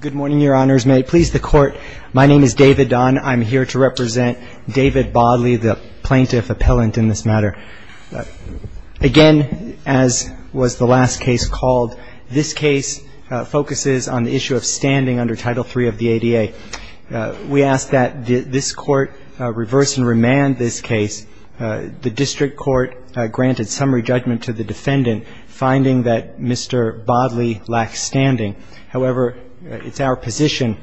Good morning, your honors. May it please the court, my name is David Don. I'm here to represent David Bodley, the plaintiff appellant in this matter. Again, as was the last case called, this case focuses on the issue of standing under Title III of the ADA. We ask that this court reverse and remand this case. The district court granted summary judgment to the defendant, finding that Mr. Bodley lacked standing. However, it's our position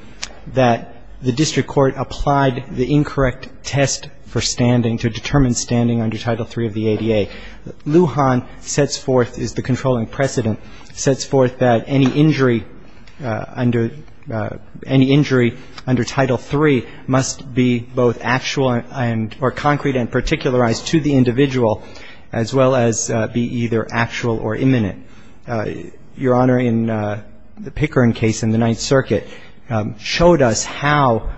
that the district court applied the incorrect test for standing to determine standing under Title III of the ADA. Lujan sets forth, is the controlling precedent, sets forth that any injury under Title III must be both actual or concrete and particularized to the individual, as well as be either actual or imminent. Your Honor, in the Pickering case in the Ninth Circuit showed us how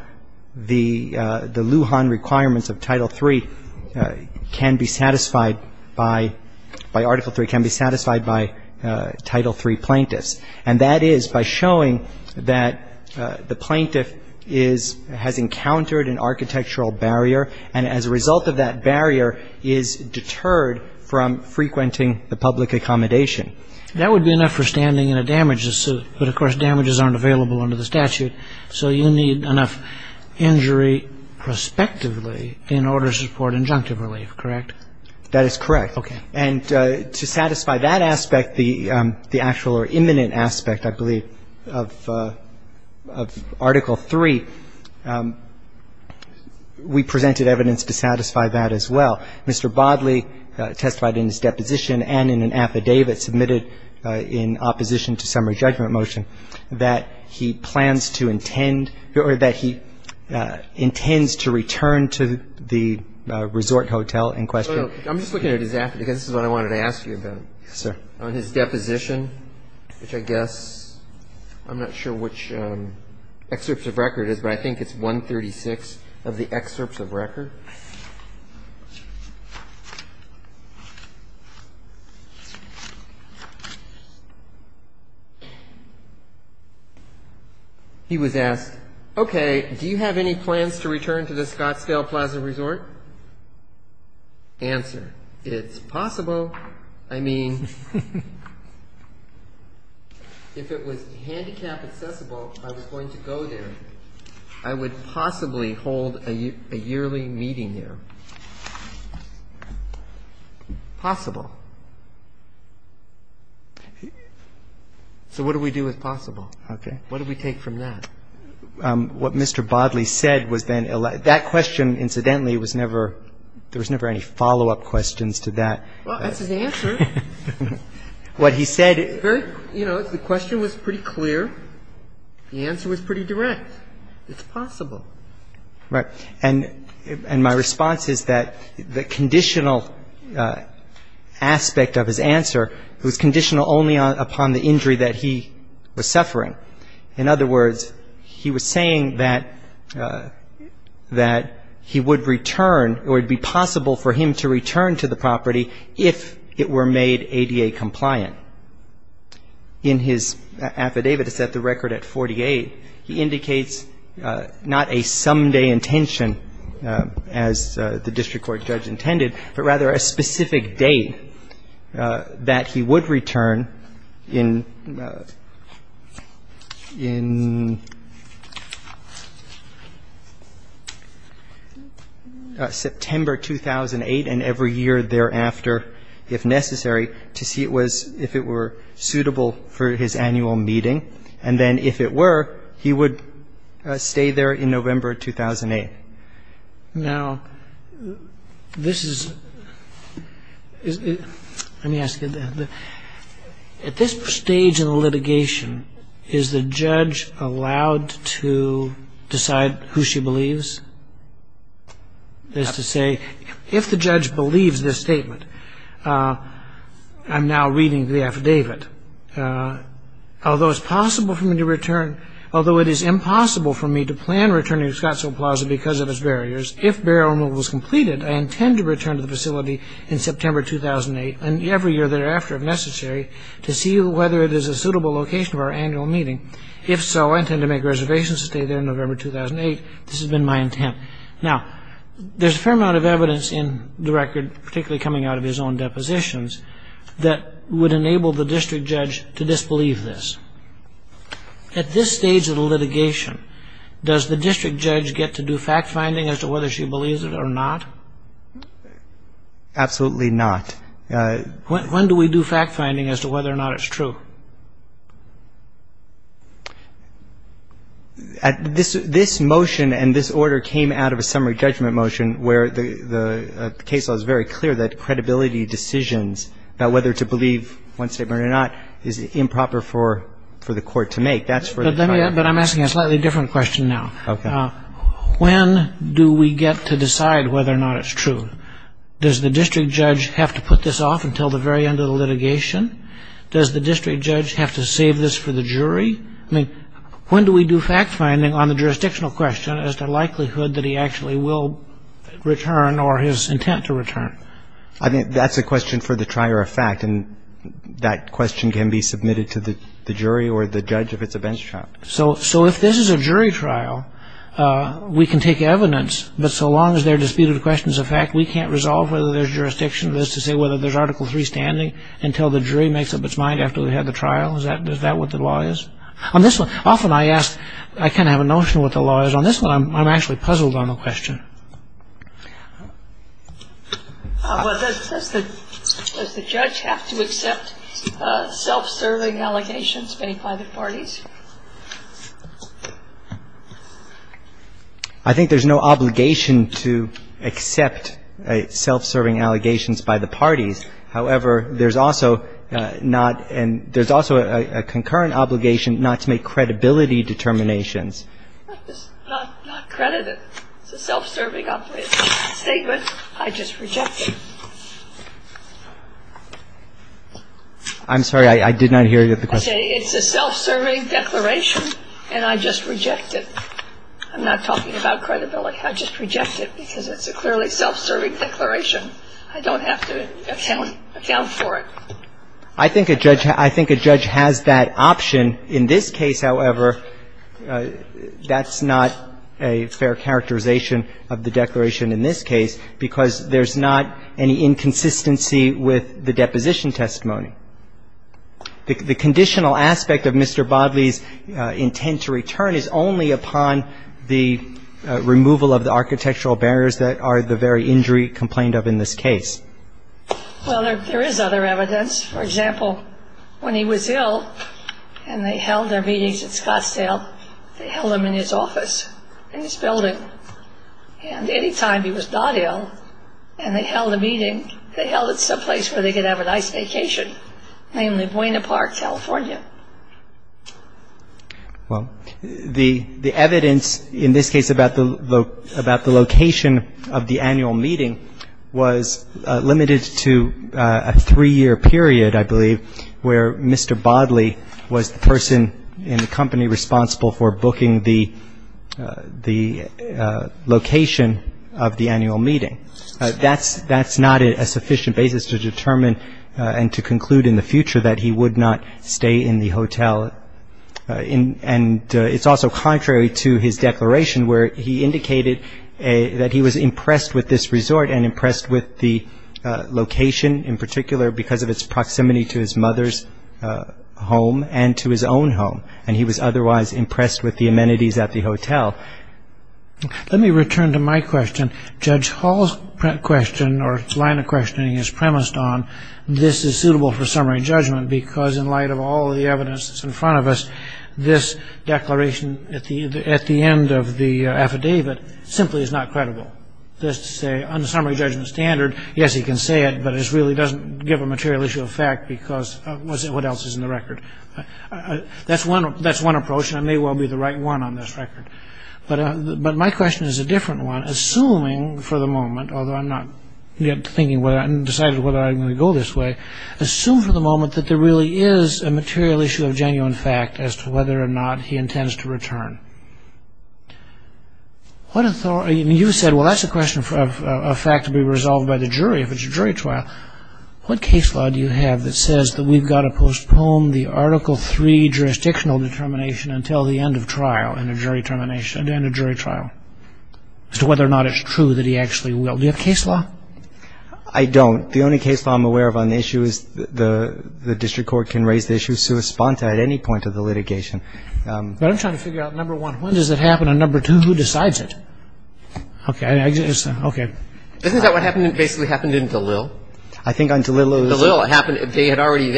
the Lujan requirements of Title III can be satisfied by Article III, can be satisfied by Title III plaintiffs, and that is by showing that the plaintiff has encountered an architectural barrier and as a result of that barrier is deterred from frequenting the public accommodation. That would be enough for standing in a damages suit, but of course damages aren't available under the statute, so you need enough injury prospectively in order to support injunctive relief, correct? That is correct. Okay. And to satisfy that aspect, the actual or imminent aspect, I believe, of Article III, we presented evidence to satisfy that as well. Mr. Bodley testified in his deposition and in an affidavit submitted in opposition to summary judgment motion that he plans to intend or that he intends to return to the resort hotel in question. I'm just looking at his affidavit because this is what I wanted to ask you about. Yes, sir. On his deposition, which I guess I'm not sure which excerpts of record it is, but I think it's 136 of the excerpts of record. He was asked, okay, do you have any plans to return to the Scottsdale Plaza Resort? Answer. It's possible. I mean, if it was handicap accessible, I was going to go there. I would possibly hold a yearly meeting there. Possible. So what do we do with possible? Okay. What do we take from that? What Mr. Bodley said was then, that question, incidentally, was never, there was never any follow-up questions to that. Well, that's his answer. What he said. You know, the question was pretty clear. The answer was pretty direct. It's possible. Right. And my response is that the conditional aspect of his answer was conditional only upon the injury that he was suffering. In other words, he was saying that he would return or it would be possible for him to return to the property if it were made ADA compliant. In his affidavit, it's at the record at 48, he indicates not a someday intention as the district court judge intended, but rather a specific date that he would return in September 2008 and every year thereafter, if necessary, to see if it were suitable for his annual meeting. And then if it were, he would stay there in November 2008. Now, this is, let me ask you, at this stage in the litigation, is the judge allowed to decide who she believes? That's to say, if the judge believes this statement, I'm now reading the affidavit, although it's possible for me to return, although it is impossible for me to plan returning to Scottsville Plaza because of its barriers. If barrier removal is completed, I intend to return to the facility in September 2008 and every year thereafter, if necessary, to see whether it is a suitable location for our annual meeting. If so, I intend to make a reservation to stay there in November 2008. This has been my intent. Now, there's a fair amount of evidence in the record, particularly coming out of his own depositions, that would enable the district judge to disbelieve this. At this stage of the litigation, does the district judge get to do fact-finding as to whether she believes it or not? Absolutely not. When do we do fact-finding as to whether or not it's true? This motion and this order came out of a summary judgment motion where the case law is very clear that credibility decisions about whether to believe one statement or not is improper for the court to make. But I'm asking a slightly different question now. Okay. When do we get to decide whether or not it's true? Does the district judge have to put this off until the very end of the litigation? Does the district judge have to save this for the jury? I mean, when do we do fact-finding on the jurisdictional question as to the likelihood that he actually will return or his intent to return? I think that's a question for the trier of fact, and that question can be submitted to the jury or the judge if it's a bench trial. So if this is a jury trial, we can take evidence. But so long as they're disputed questions of fact, we can't resolve whether there's jurisdiction of this to say whether there's Article 3 standing until the jury makes up its mind after we've had the trial? Is that what the law is? On this one, often I ask, I kind of have a notion of what the law is. On this one, I'm actually puzzled on the question. Well, does the judge have to accept self-serving allegations made by the parties? I think there's no obligation to accept self-serving allegations by the parties. However, there's also not and there's also a concurrent obligation not to make credibility determinations. It's not credited. It's a self-serving statement. I just reject it. I'm sorry. I did not hear you at the question. It's a self-serving declaration and I just reject it. I'm not talking about credibility. I just reject it because it's a clearly self-serving declaration. I don't have to account for it. I think a judge has that option. In this case, however, that's not a fair characterization of the declaration in this case because there's not any inconsistency with the deposition testimony. The conditional aspect of Mr. Bodley's intent to return is only upon the removal of the architectural barriers that are the very injury complained of in this case. Well, there is other evidence. For example, when he was ill and they held their meetings at Scottsdale, they held them in his office, in his building. And any time he was not ill and they held a meeting, they held it someplace where they could have a nice vacation, namely Buena Park, California. Well, the evidence in this case about the location of the annual meeting was limited to a three-year period, I believe, where Mr. Bodley was the person in the company responsible for booking the location of the annual meeting. That's not a sufficient basis to determine and to conclude in the future that he would not stay in the hotel. And it's also contrary to his declaration where he indicated that he was impressed with this resort and impressed with the location in particular because of its proximity to his mother's home and to his own home. And he was otherwise impressed with the amenities at the hotel. Let me return to my question. Judge Hall's question or line of questioning is premised on this is suitable for summary judgment because in light of all the evidence that's in front of us, this declaration at the end of the affidavit simply is not credible. That's to say, on the summary judgment standard, yes, he can say it, but it really doesn't give a material issue of fact because what else is in the record? That's one approach, and I may well be the right one on this record. But my question is a different one. Assuming for the moment, although I'm not yet decided whether I'm going to go this way, assume for the moment that there really is a material issue of genuine fact as to whether or not he intends to return. You said, well, that's a question of fact to be resolved by the jury if it's a jury trial. What case law do you have that says that we've got to postpone the Article III jurisdictional determination until the end of trial in a jury trial as to whether or not it's true that he actually will? Do you have case law? I don't. The only case law I'm aware of on the issue is the district court can raise the issue sua sponta at any point of the litigation. But I'm trying to figure out, number one, when does it happen, and number two, who decides it? Okay. Okay. Isn't that what basically happened in Dalil? I think on Dalil. Dalil. It happened. They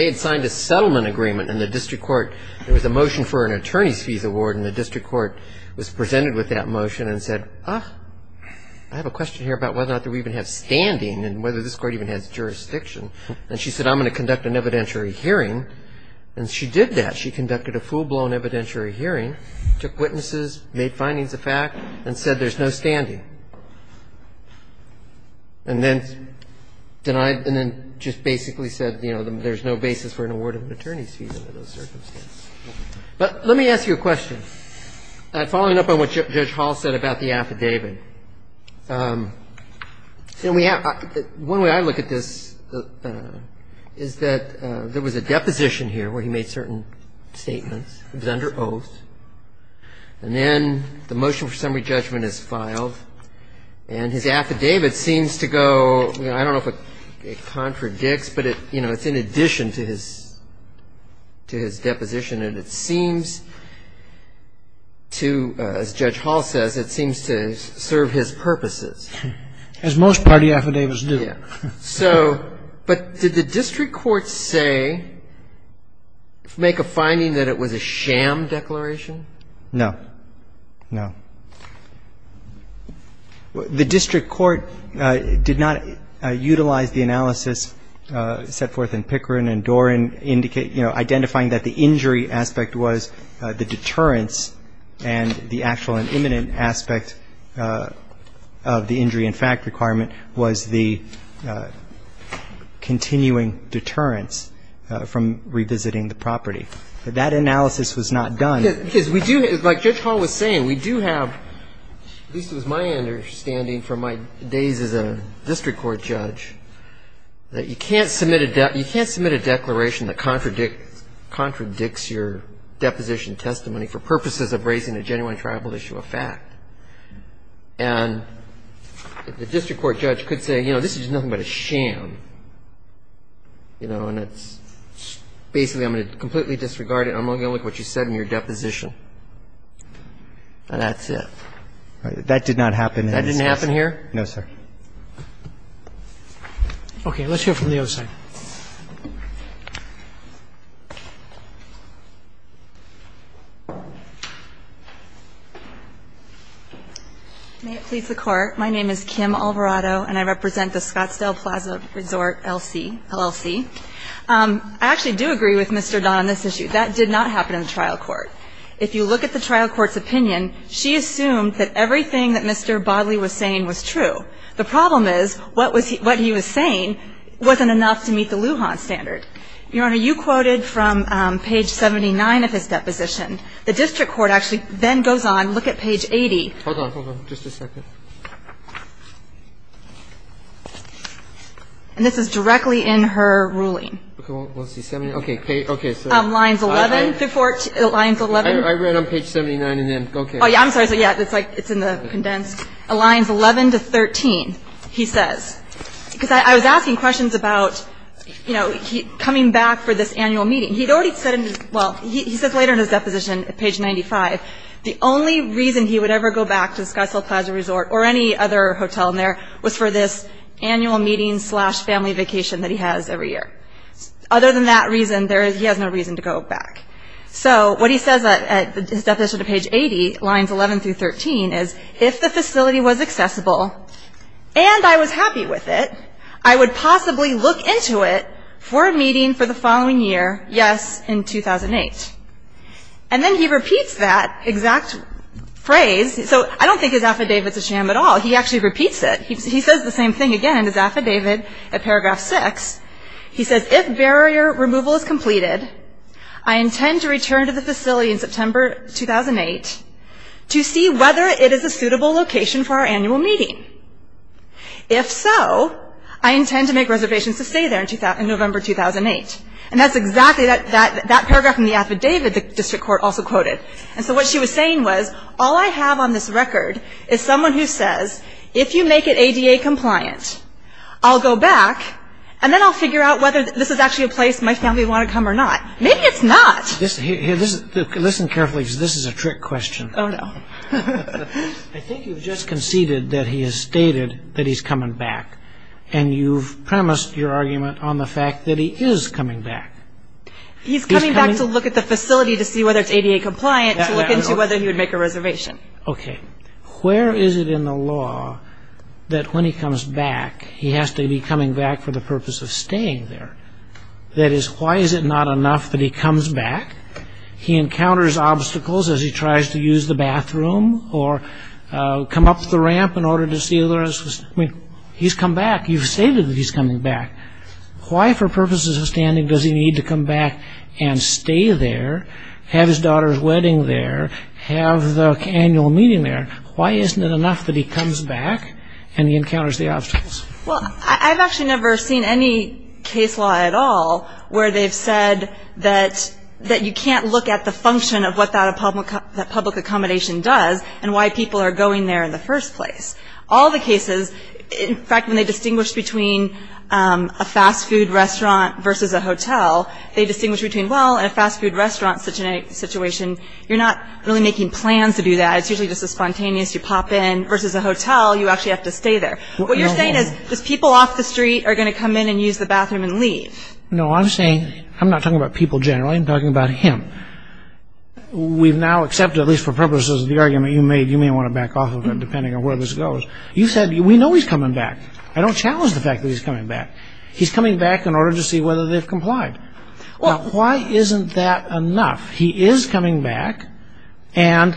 had signed a settlement agreement in the district court. There was a motion for an attorney's fees award, and the district court was presented with that motion and said, ah, I have a question here about whether or not we even have standing and whether this court even has jurisdiction. And she said, I'm going to conduct an evidentiary hearing. And she did that. She conducted a full-blown evidentiary hearing, took witnesses, made findings of fact, and said there's no standing. And then denied and then just basically said, you know, there's no basis for an award of an attorney's fees under those circumstances. But let me ask you a question. Following up on what Judge Hall said about the affidavit, one way I look at this is that there was a deposition here where he made certain statements. It was under oath. And then the motion for summary judgment is filed, and his affidavit seems to go, I don't know if it contradicts, but it's in addition to his deposition, and it seems to, as Judge Hall says, it seems to serve his purposes. As most party affidavits do. Yeah. So, but did the district court say, make a finding that it was a sham declaration? No. No. The district court did not utilize the analysis set forth in Pickering and Doran, you know, identifying that the injury aspect was the deterrence, and the actual and imminent aspect of the injury in fact requirement was the continuing deterrence from revisiting the property. But that analysis was not done. Because we do, like Judge Hall was saying, we do have, at least it was my understanding from my days as a district court judge, that you can't submit a declaration that contradicts your deposition testimony for purposes of raising a genuine tribal issue of fact. And the district court judge could say, you know, this is nothing but a sham, you know, and it's basically I'm going to completely disregard it and I'm only going to look at what you said in your deposition. And that's it. That did not happen in this case. That didn't happen here? No, sir. Okay. Let's hear from the other side. May it please the Court. My name is Kim Alvarado and I represent the Scottsdale Plaza Resort LLC. I actually do agree with Mr. Don on this issue. That did not happen in the trial court. If you look at the trial court's opinion, she assumed that everything that Mr. Bodley was saying was true. The problem is what he was saying wasn't enough to meet the Lujan standard. Your Honor, you quoted from page 79 of his deposition. The district court actually then goes on, look at page 80. Hold on, hold on. Just a second. And this is directly in her ruling. Okay. Okay. Lines 11 through 14. Lines 11. I read on page 79 and then, okay. Oh, yeah. I'm sorry. Yeah, it's like it's in the condensed. Lines 11 to 13, he says. Because I was asking questions about, you know, coming back for this annual meeting. He had already said in his, well, he says later in his deposition, page 95, the only reason he would ever go back to the Scottsdale Plaza Resort or any other hotel in there was for this annual meeting slash family vacation that he has every year. Other than that reason, he has no reason to go back. So what he says at his deposition to page 80, lines 11 through 13, is if the facility was accessible and I was happy with it, I would possibly look into it for a meeting for the following year, yes, in 2008. And then he repeats that exact phrase. So I don't think his affidavit's a sham at all. He actually repeats it. He says the same thing again in his affidavit at paragraph 6. He says, if barrier removal is completed, I intend to return to the facility in September 2008 to see whether it is a suitable location for our annual meeting. If so, I intend to make reservations to stay there in November 2008. And that's exactly that paragraph in the affidavit the district court also quoted. And so what she was saying was, all I have on this record is someone who says, if you make it ADA compliant, I'll go back, and then I'll figure out whether this is actually a place my family would want to come or not. Maybe it's not. Listen carefully because this is a trick question. Oh, no. I think you've just conceded that he has stated that he's coming back, and you've premised your argument on the fact that he is coming back. He's coming back to look at the facility to see whether it's ADA compliant to look into whether he would make a reservation. Okay. Where is it in the law that when he comes back, he has to be coming back for the purpose of staying there? That is, why is it not enough that he comes back, he encounters obstacles as he tries to use the bathroom or come up the ramp in order to see the rest of the facility? He's come back. You've stated that he's coming back. Why, for purposes of standing, does he need to come back and stay there, have his daughter's wedding there, have the annual meeting there? Why isn't it enough that he comes back and he encounters the obstacles? Well, I've actually never seen any case law at all where they've said that you can't look at the function of what that public accommodation does and why people are going there in the first place. All the cases, in fact, when they distinguish between a fast food restaurant versus a hotel, they distinguish between, well, in a fast food restaurant situation, you're not really making plans to do that. It's usually just a spontaneous, you pop in, versus a hotel, you actually have to stay there. What you're saying is just people off the street are going to come in and use the bathroom and leave. No, I'm saying I'm not talking about people generally. I'm talking about him. We've now accepted, at least for purposes of the argument you made, you may want to back off of it depending on where this goes. You said we know he's coming back. I don't challenge the fact that he's coming back. He's coming back in order to see whether they've complied. Now, why isn't that enough? He is coming back, and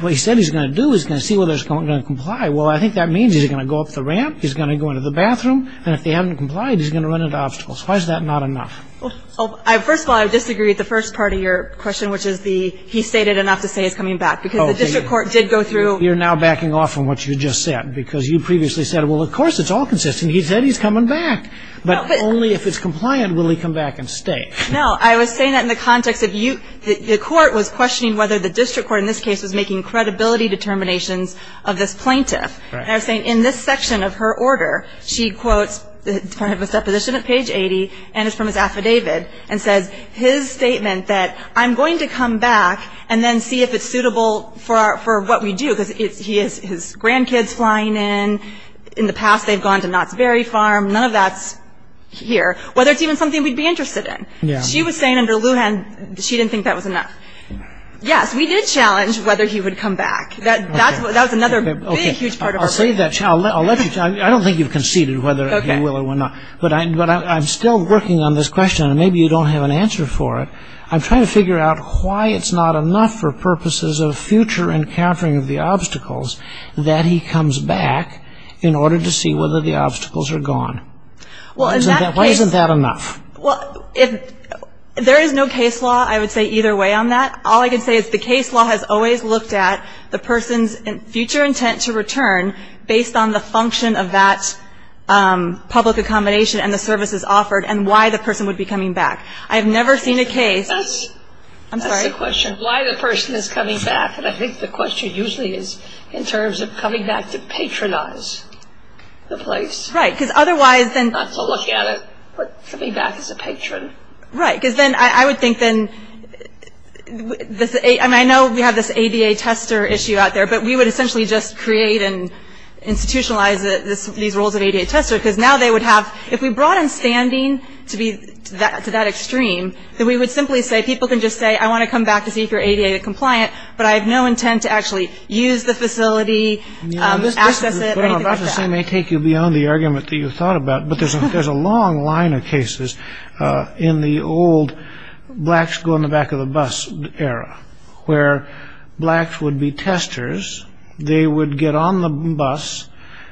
what he said he's going to do, he's going to see whether he's going to comply. Well, I think that means he's going to go up the ramp, he's going to go into the bathroom, and if they haven't complied, he's going to run into obstacles. Why is that not enough? First of all, I disagree with the first part of your question, which is he stated enough to say he's coming back, because the district court did go through. You're now backing off from what you just said, because you previously said, well, of course, it's all consistent. He said he's coming back, but only if it's compliant will he come back and stay. No, I was saying that in the context of you. The court was questioning whether the district court in this case was making credibility determinations of this plaintiff. And I was saying in this section of her order, she quotes kind of a supposition at page 80, and it's from his affidavit, and says his statement that I'm going to come back and then see if it's suitable for what we do, because he has his grandkids flying in. In the past, they've gone to Knott's Berry Farm. None of that's here. Whether it's even something we'd be interested in. She was saying under Lujan, she didn't think that was enough. Yes, we did challenge whether he would come back. That was another big, huge part of her order. I don't think you've conceded whether he will or will not. But I'm still working on this question, and maybe you don't have an answer for it. I'm trying to figure out why it's not enough for purposes of future encountering of the obstacles that he comes back in order to see whether the obstacles are gone. Why isn't that enough? Well, there is no case law, I would say, either way on that. All I can say is the case law has always looked at the person's future intent to return based on the function of that public accommodation and the services offered and why the person would be coming back. I have never seen a case. That's the question, why the person is coming back. And I think the question usually is in terms of coming back to patronize the place. Right. Because otherwise then Not to look at it, but coming back as a patron. Right. Because then I would think then, I mean, I know we have this ADA tester issue out there, but we would essentially just create and institutionalize these roles of ADA tester because now they would have, if we brought in standing to that extreme, then we would simply say people can just say I want to come back to see if you're ADA compliant, but I have no intent to actually use the facility, access it, or anything like that. This may take you beyond the argument that you thought about, but there's a long line of cases in the old blacks go in the back of the bus era where blacks would be testers. They would get on the bus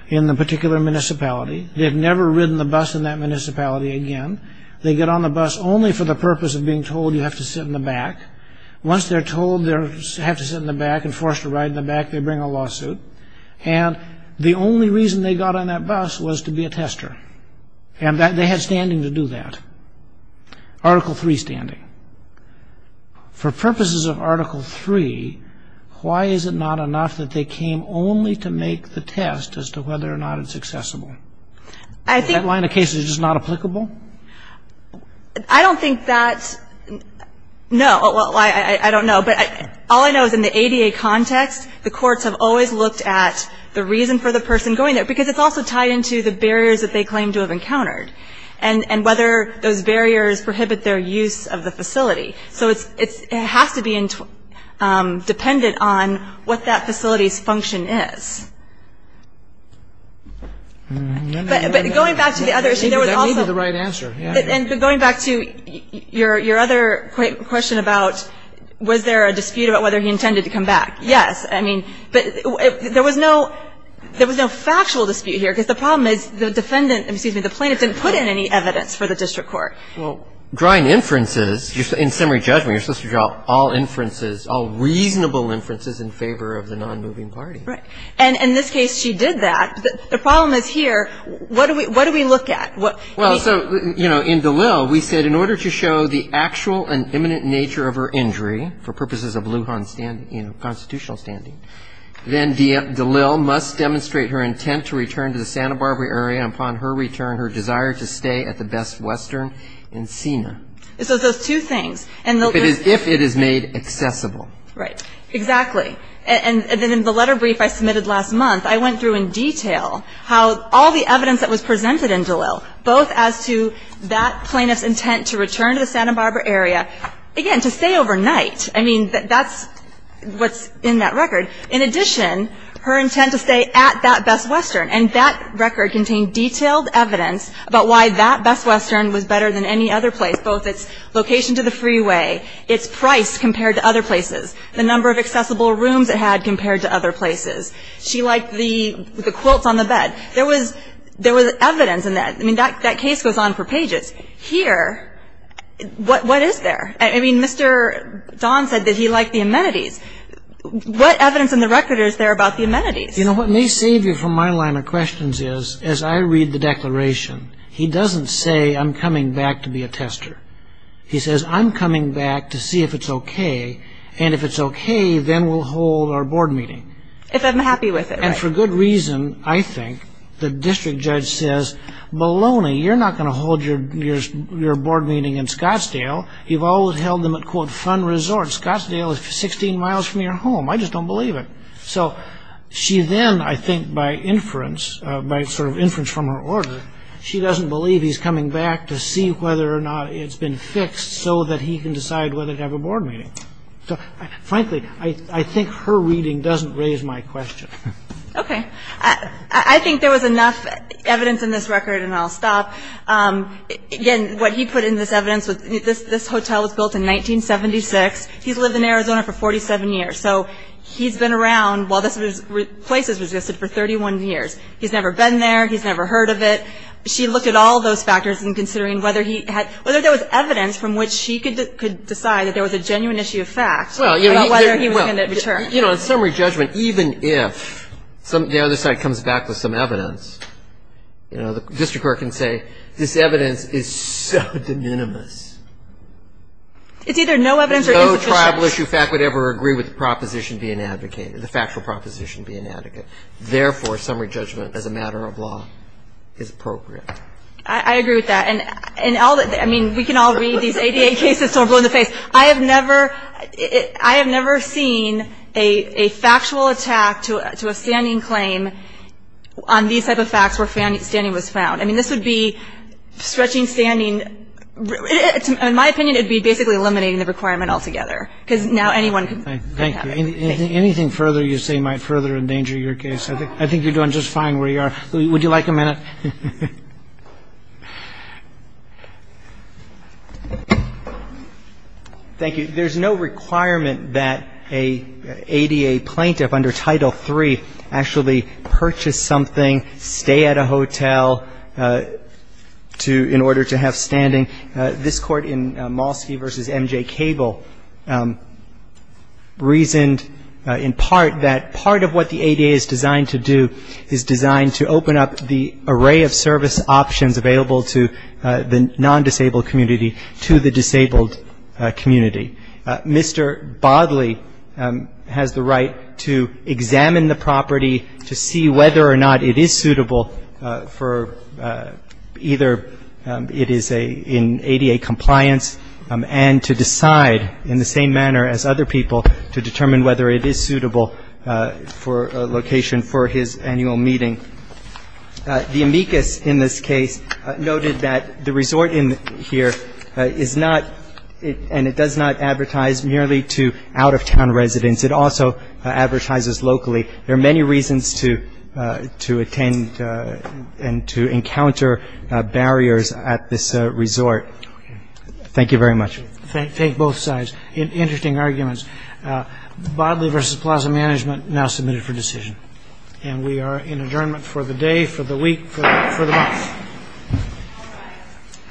in the particular municipality. They've never ridden the bus in that municipality again. They get on the bus only for the purpose of being told you have to sit in the back. Once they're told they have to sit in the back and forced to ride in the back, they bring a lawsuit. And the only reason they got on that bus was to be a tester. And they had standing to do that. Article III standing. For purposes of Article III, why is it not enough that they came only to make the test as to whether or not it's accessible? I think That line of cases is just not applicable? I don't think that's No. Well, I don't know. But all I know is in the ADA context, the courts have always looked at the reason for the person going there because it's also tied into the barriers that they claim to have encountered and whether those barriers prohibit their use of the facility. So it has to be dependent on what that facility's function is. But going back to the other issue, there was also That may be the right answer. And going back to your other question about was there a dispute about whether he intended to come back. Yes. I mean, there was no factual dispute here because the problem is the defendant, excuse me, the plaintiff didn't put in any evidence for the district court. Well, drawing inferences, in summary judgment, you're supposed to draw all inferences, all reasonable inferences in favor of the nonmoving party. Right. And in this case, she did that. The problem is here, what do we look at? Well, so, you know, in DeLille, we said, in order to show the actual and imminent nature of her injury, for purposes of Lujan constitutional standing, then DeLille must demonstrate her intent to return to the Santa Barbara area. Upon her return, her desire to stay at the Best Western and SENA. So those two things. If it is made accessible. Right. Exactly. And then in the letter brief I submitted last month, I went through in detail how all the evidence that was presented in DeLille, both as to that plaintiff's intent to return to the Santa Barbara area, again, to stay overnight. I mean, that's what's in that record. In addition, her intent to stay at that Best Western. And that record contained detailed evidence about why that Best Western was better than any other place, both its location to the freeway, its price compared to other places, the number of accessible rooms it had compared to other places. She liked the quilts on the bed. There was evidence in that. I mean, that case goes on for pages. Here, what is there? I mean, Mr. Don said that he liked the amenities. What evidence in the record is there about the amenities? You know, what may save you from my line of questions is, as I read the declaration, he doesn't say, I'm coming back to be a tester. He says, I'm coming back to see if it's okay. And if it's okay, then we'll hold our board meeting. If I'm happy with it. And for good reason, I think. The district judge says, Maloney, you're not going to hold your board meeting in Scottsdale. You've always held them at, quote, fun resorts. Scottsdale is 16 miles from your home. I just don't believe it. So she then, I think by inference, by sort of inference from her order, she doesn't believe he's coming back to see whether or not it's been fixed so that he can decide whether to have a board meeting. Frankly, I think her reading doesn't raise my question. Okay. I think there was enough evidence in this record, and I'll stop. Again, what he put in this evidence, this hotel was built in 1976. He's lived in Arizona for 47 years. So he's been around while this place has existed for 31 years. He's never been there. He's never heard of it. She looked at all those factors in considering whether he had, whether there was evidence from which she could decide that there was a genuine issue of fact about whether he was going to return. In summary judgment, even if the other side comes back with some evidence, the district court can say this evidence is so de minimis. It's either no evidence or insufficient. No tribal issue fact would ever agree with the proposition being advocated, the factual proposition being advocated. Therefore, summary judgment as a matter of law is appropriate. I agree with that. And all that, I mean, we can all read these ADA cases, so we're blown in the face. I have never seen a factual attack to a standing claim on these type of facts where standing was found. I mean, this would be stretching standing. In my opinion, it would be basically eliminating the requirement altogether, because now anyone could have it. Thank you. Anything further you say might further endanger your case. I think you're doing just fine where you are. Would you like a minute? Thank you. There's no requirement that an ADA plaintiff under Title III actually purchase something, stay at a hotel to – in order to have standing. This Court in Malski v. M.J. Cable reasoned in part that part of what the ADA is designed to do is designed to open up the array of service options available to the non-disabled community to the disabled community. Mr. Bodley has the right to examine the property to see whether or not it is suitable for either it is in ADA compliance and to decide in the same manner as other people to determine whether it is suitable for location for his annual meeting. The amicus in this case noted that the resort here is not – and it does not advertise merely to out-of-town residents. It also advertises locally. There are many reasons to attend and to encounter barriers at this resort. Thank you very much. Take both sides. Interesting arguments. Bodley v. Plaza Management now submitted for decision. And we are in adjournment for the day, for the week, for the month.